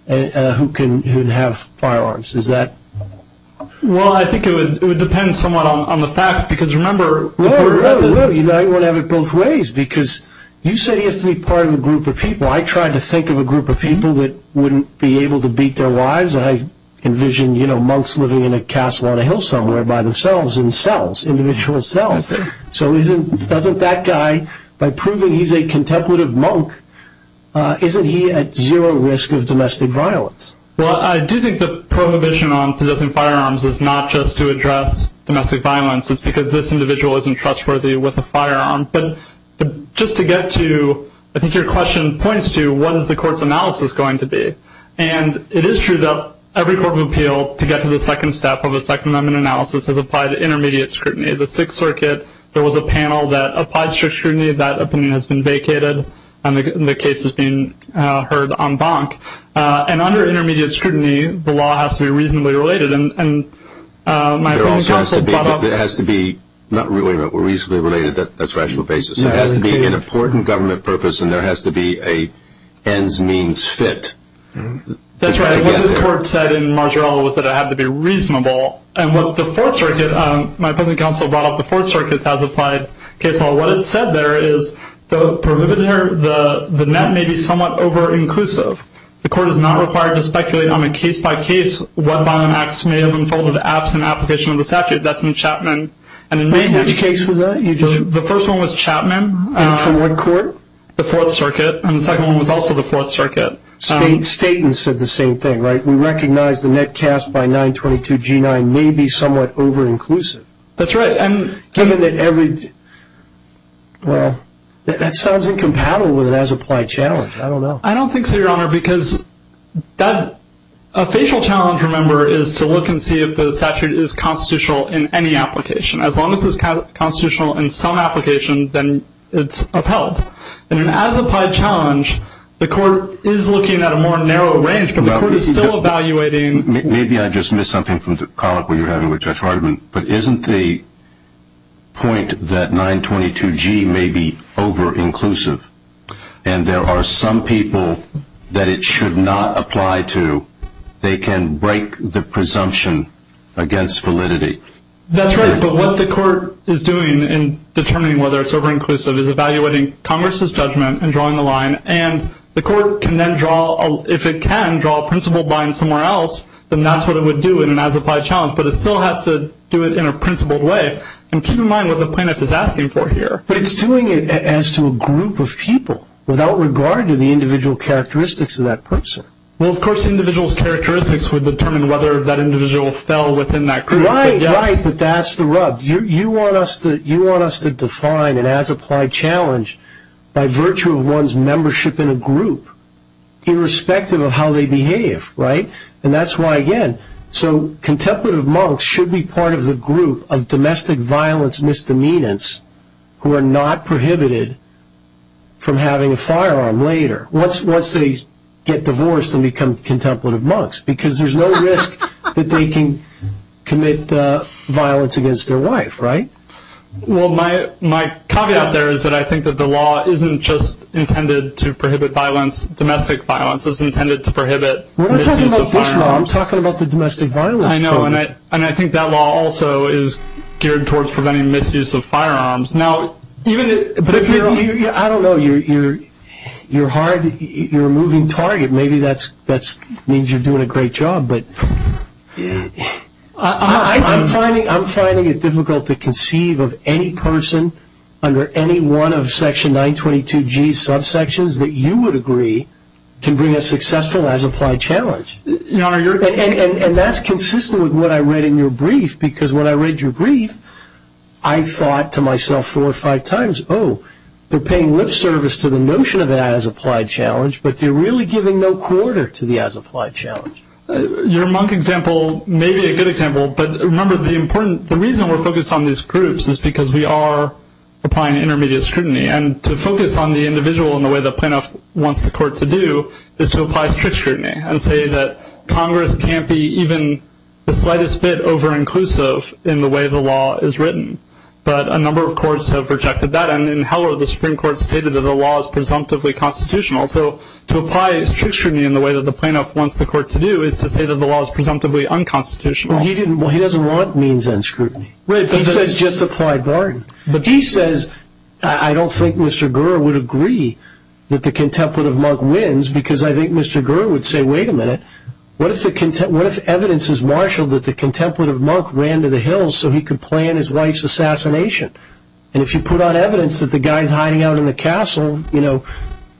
who can have firearms. Is that? Well, I think it would depend somewhat on the facts. Because remember, you know, you want to have it both ways. Because you said he has to be part of a group of people. I tried to think of a group of people that wouldn't be able to beat their lives. And I envision, you know, monks living in a castle on a hill somewhere by themselves in cells, individual cells. So isn't doesn't that guy, by proving he's a contemplative monk, isn't he at zero risk of domestic violence? Well, I do think the prohibition on possessing firearms is not just to address domestic violence. It's because this individual isn't trustworthy with a firearm. But just to get to, I think your question points to, what is the court's analysis going to be? And it is true that every court of appeal, to get to the second step of a Second Amendment analysis, has applied intermediate scrutiny. The Sixth Circuit, there was a panel that applied strict scrutiny. That opinion has been vacated. And the case is being heard en banc. And under intermediate scrutiny, the law has to be reasonably related. And my opinion counsel brought up- It has to be not really, but reasonably related. That's rational basis. It has to be an important government purpose. And there has to be a ends means fit. That's right. And what the court said in Marjoriella was that it had to be reasonable. And what the Fourth Circuit, my opinion counsel brought up the Fourth Circuit has applied case law. What it said there is the prohibitor, the net may be somewhat over inclusive. The court is not required to speculate on a case-by-case what by and acts may have unfolded absent application of the statute. That's in Chapman. And in my- Which case was that? The first one was Chapman. And from what court? The Fourth Circuit. And the second one was also the Fourth Circuit. Staton said the same thing, right? We recognize the net cast by 922 G9 may be somewhat over inclusive. That's right. And- Given that every- Well, that sounds incompatible with an as-applied challenge. I don't know. I don't think so, Your Honor, because a facial challenge, remember, is to look and see if the statute is constitutional in any application. As long as it's constitutional in some application, then it's upheld. In an as-applied challenge, the court is looking at a more narrow range, but the court is still evaluating- Maybe I just missed something from the comment we were having with Judge Hartman. But isn't the point that 922 G may be over inclusive? And there are some people that it should not apply to. They can break the presumption against validity. That's right. But what the court is doing in determining whether it's over inclusive is evaluating Congress's judgment and drawing the line. And the court can then draw, if it can draw a principled line somewhere else, then that's what it would do in an as-applied challenge. But it still has to do it in a principled way. And keep in mind what the plaintiff is asking for here. But it's doing it as to a group of people, without regard to the individual characteristics of that person. Well, of course, individual's characteristics would determine whether that individual fell within that group. Right, right. But that's the rub. You want us to define an as-applied challenge by virtue of one's membership in a group, irrespective of how they behave, right? And that's why, again, so contemplative monks should be part of the group of domestic violence misdemeanors who are not prohibited from having a firearm later, once they get divorced and become contemplative monks. Because there's no risk that they can commit violence against their wife, right? Well, my caveat there is that I think that the law isn't just intended to prohibit violence, It's intended to prohibit misuse of firearms. We're not talking about this law. I'm talking about the domestic violence program. And I think that law also is geared towards preventing misuse of firearms. I don't know. You're a moving target. Maybe that means you're doing a great job. But I'm finding it difficult to conceive of any person under any one of Section 922G subsections that you would agree can bring a successful as-applied challenge. And that's consistent with what I read in your brief. Because when I read your brief, I thought to myself four or five times, oh, they're paying lip service to the notion of an as-applied challenge, but they're really giving no quarter to the as-applied challenge. Your monk example may be a good example. But remember, the reason we're focused on these groups is because we are applying intermediate scrutiny. And to focus on the individual in the way the plaintiff wants the court to do is to apply strict scrutiny and say that Congress can't be even the slightest bit over-inclusive in the way the law is written. But a number of courts have rejected that. And in Heller, the Supreme Court stated that the law is presumptively constitutional. So to apply strict scrutiny in the way that the plaintiff wants the court to do is to say that the law is presumptively unconstitutional. Well, he doesn't want means-end scrutiny. Right. He says just-applied barring. But he says, I don't think Mr. Gurr would agree that the contemplative monk wins because I think Mr. Gurr would say, wait a minute, what if evidence is marshaled that the contemplative monk ran to the hills so he could plan his wife's assassination? And if you put on evidence that the guy's hiding out in the castle, you know,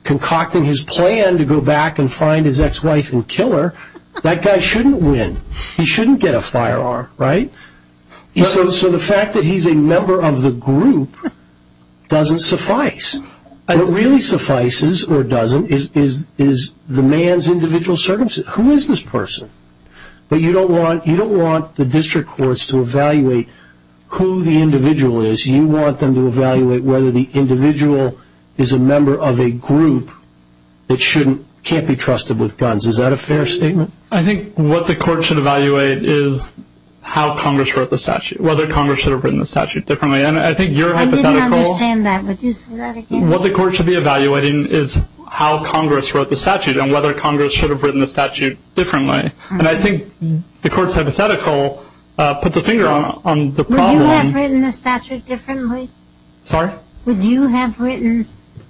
concocting his plan to go back and find his ex-wife and kill her, that guy shouldn't win. He shouldn't get a firearm, right? So the fact that he's a member of the group doesn't suffice. And what really suffices or doesn't is the man's individual circumstances. Who is this person? But you don't want the district courts to evaluate who the individual is. You want them to evaluate whether the individual is a member of a group that can't be trusted with guns. Is that a fair statement? I think what the court should evaluate is how Congress wrote the statute, whether Congress should have written the statute differently. I didn't understand that. Would you say that again? What the court should be evaluating is how Congress wrote the statute and whether Congress should have written the statute differently. And I think the court's hypothetical puts a finger on the problem. Would you have written the statute differently? Sorry? Would you have written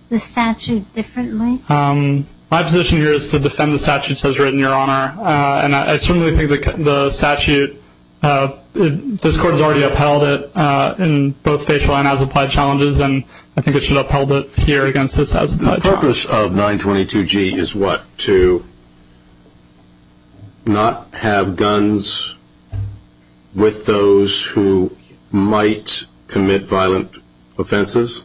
the statute differently? My position here is to defend the statute as written, Your Honor. And I certainly think the statute, uh, this court has already upheld it in both facial and as applied challenges. And I think it should upheld it here against this as the purpose of 922 G is what to not have guns with those who might commit violent offenses.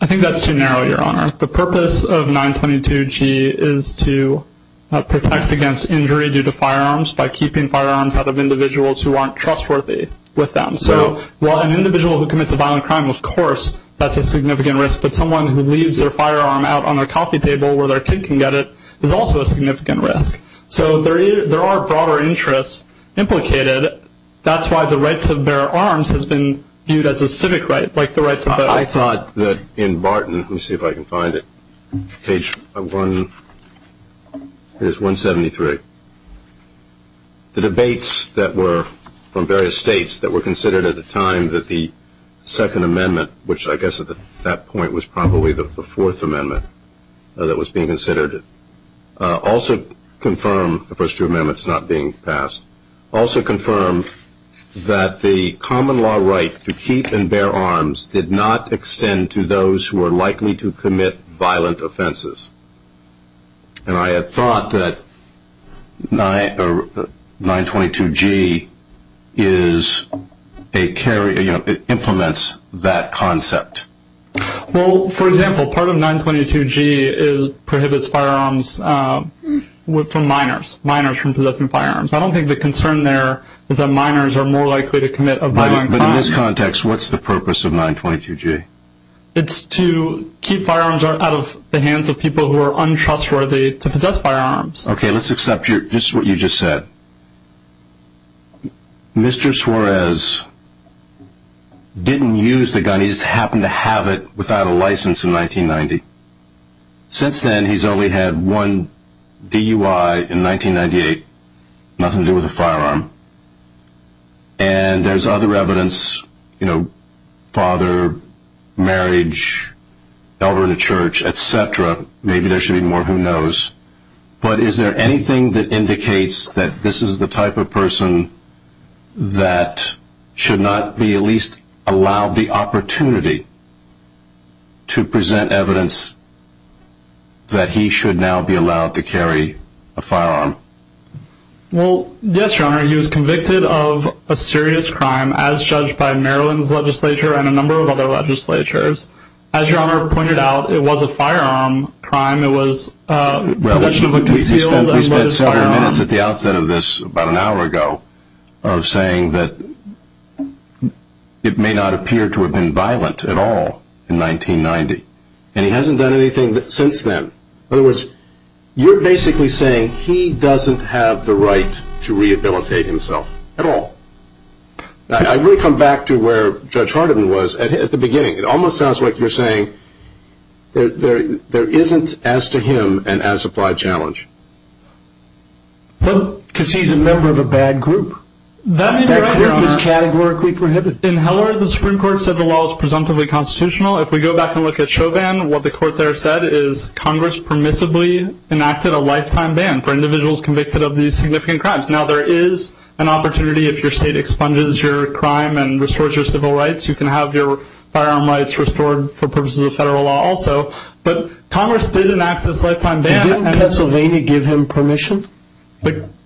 I think that's too narrow, Your Honor. The purpose of 922 G is to protect against injury due to firearms by keeping firearms out of individuals who aren't trustworthy with them. So while an individual who commits a violent crime, of course, that's a significant risk, but someone who leaves their firearm out on their coffee table where their kid can get it is also a significant risk. So there are broader interests implicated. That's why the right to bear arms has been viewed as a civic right, like the right to bear arms. I thought that in Barton, let me see if I can find it. Page 173. The debates that were from various states that were considered at the time that the Second Amendment, which I guess at that point was probably the Fourth Amendment that was being considered, also confirmed, the first two amendments not being passed, also confirmed that the common law right to keep and bear arms did not extend to those who are likely to commit violent offenses. And I had thought that 922 G is a carrier, you know, it implements that concept. Well, for example, part of 922 G prohibits firearms from minors, minors from possessing firearms. I don't think the concern there is that minors are more likely to commit a violent crime. But in this context, what's the purpose of 922 G? It's to keep firearms out of the hands of people who are untrustworthy to possess firearms. OK, let's accept just what you just said. Mr. Suarez didn't use the gun. He just happened to have it without a license in 1990. Since then, he's only had one DUI in 1998, nothing to do with a firearm. And there's other evidence, you know, father, marriage, elder in a church, etc. Maybe there should be more, who knows? But is there anything that indicates that this is the type of person that should not be at least allowed the opportunity to present evidence that he should now be allowed to carry a firearm? Well, yes, your honor, he was convicted of a serious crime, as judged by Maryland's legislature and a number of other legislatures. As your honor pointed out, it was a firearm crime. It was. We spent several minutes at the outset of this about an hour ago of saying that it may not appear to have been violent at all in 1990. And he hasn't done anything since then. In other words, you're basically saying he doesn't have the right to rehabilitate himself at all. I really come back to where Judge Hardiman was at the beginning. It almost sounds like you're saying there isn't, as to him, an as-applied challenge. Because he's a member of a bad group. That group is categorically prohibited. In Heller, the Supreme Court said the law is presumptively constitutional. If we go back and look at Chauvin, what the court there said is Congress permissibly enacted a lifetime ban for individuals convicted of these significant crimes. Now, there is an opportunity, if your state expunges your crime and restores your civil rights, you can have your firearm rights restored for purposes of federal law also. But Congress did enact this lifetime ban. Didn't Pennsylvania give him permission?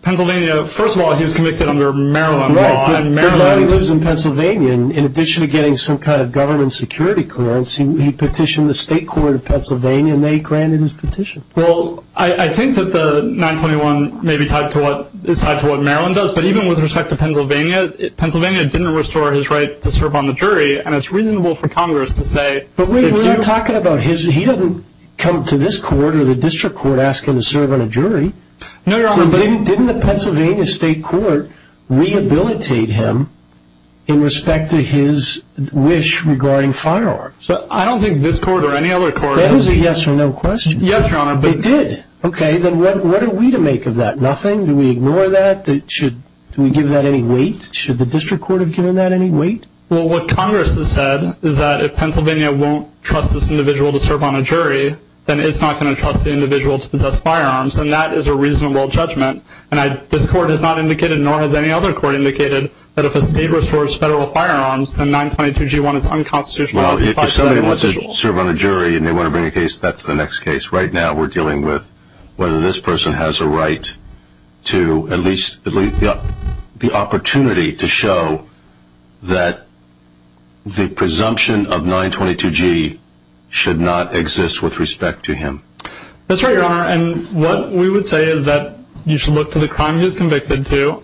Pennsylvania, first of all, he was convicted under Maryland law. Right, but now he lives in Pennsylvania. In addition to getting some kind of government security clearance, he petitioned the state court of Pennsylvania and they granted his petition. Well, I think that the 921 is tied to what Maryland does. But even with respect to Pennsylvania, Pennsylvania didn't restore his right to serve on the jury. And it's reasonable for Congress to say... But wait, we're talking about his... He doesn't come to this court or the district court asking to serve on a jury. No, Your Honor, but... Didn't the Pennsylvania state court rehabilitate him in respect to his wish regarding firearms? I don't think this court or any other court... That is a yes or no question. Yes, Your Honor, but... It did. Okay, then what are we to make of that? Nothing? Do we ignore that? Do we give that any weight? Should the district court have given that any weight? Well, what Congress has said is that if Pennsylvania won't trust this individual to serve on a jury, then it's not going to trust the individual to possess firearms. And that is a reasonable judgment. And this court has not indicated, nor has any other court indicated, that if a state restores federal firearms, then 922G1 is unconstitutional. Well, if somebody wants to serve on a jury and they want to bring a case, that's the next case. Right now, we're dealing with whether this person has a right to at least the opportunity to show that the presumption of 922G should not exist with respect to him. That's right, Your Honor. And what we would say is that you should look to the crime he was convicted to.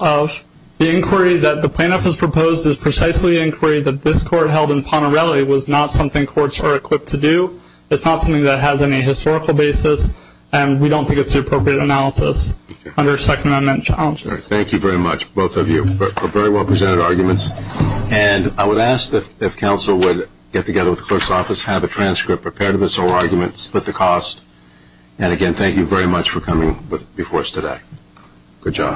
The inquiry that the plaintiff has proposed is precisely the inquiry that this court held in Ponerelli was not something courts are equipped to do. It's not something that has any historical basis. And we don't think it's the appropriate analysis under Second Amendment challenges. Thank you very much, both of you, for very well presented arguments. Have a transcript. Prepare to dissolve arguments. Split the cost. And again, thank you very much for coming before us today. Good job.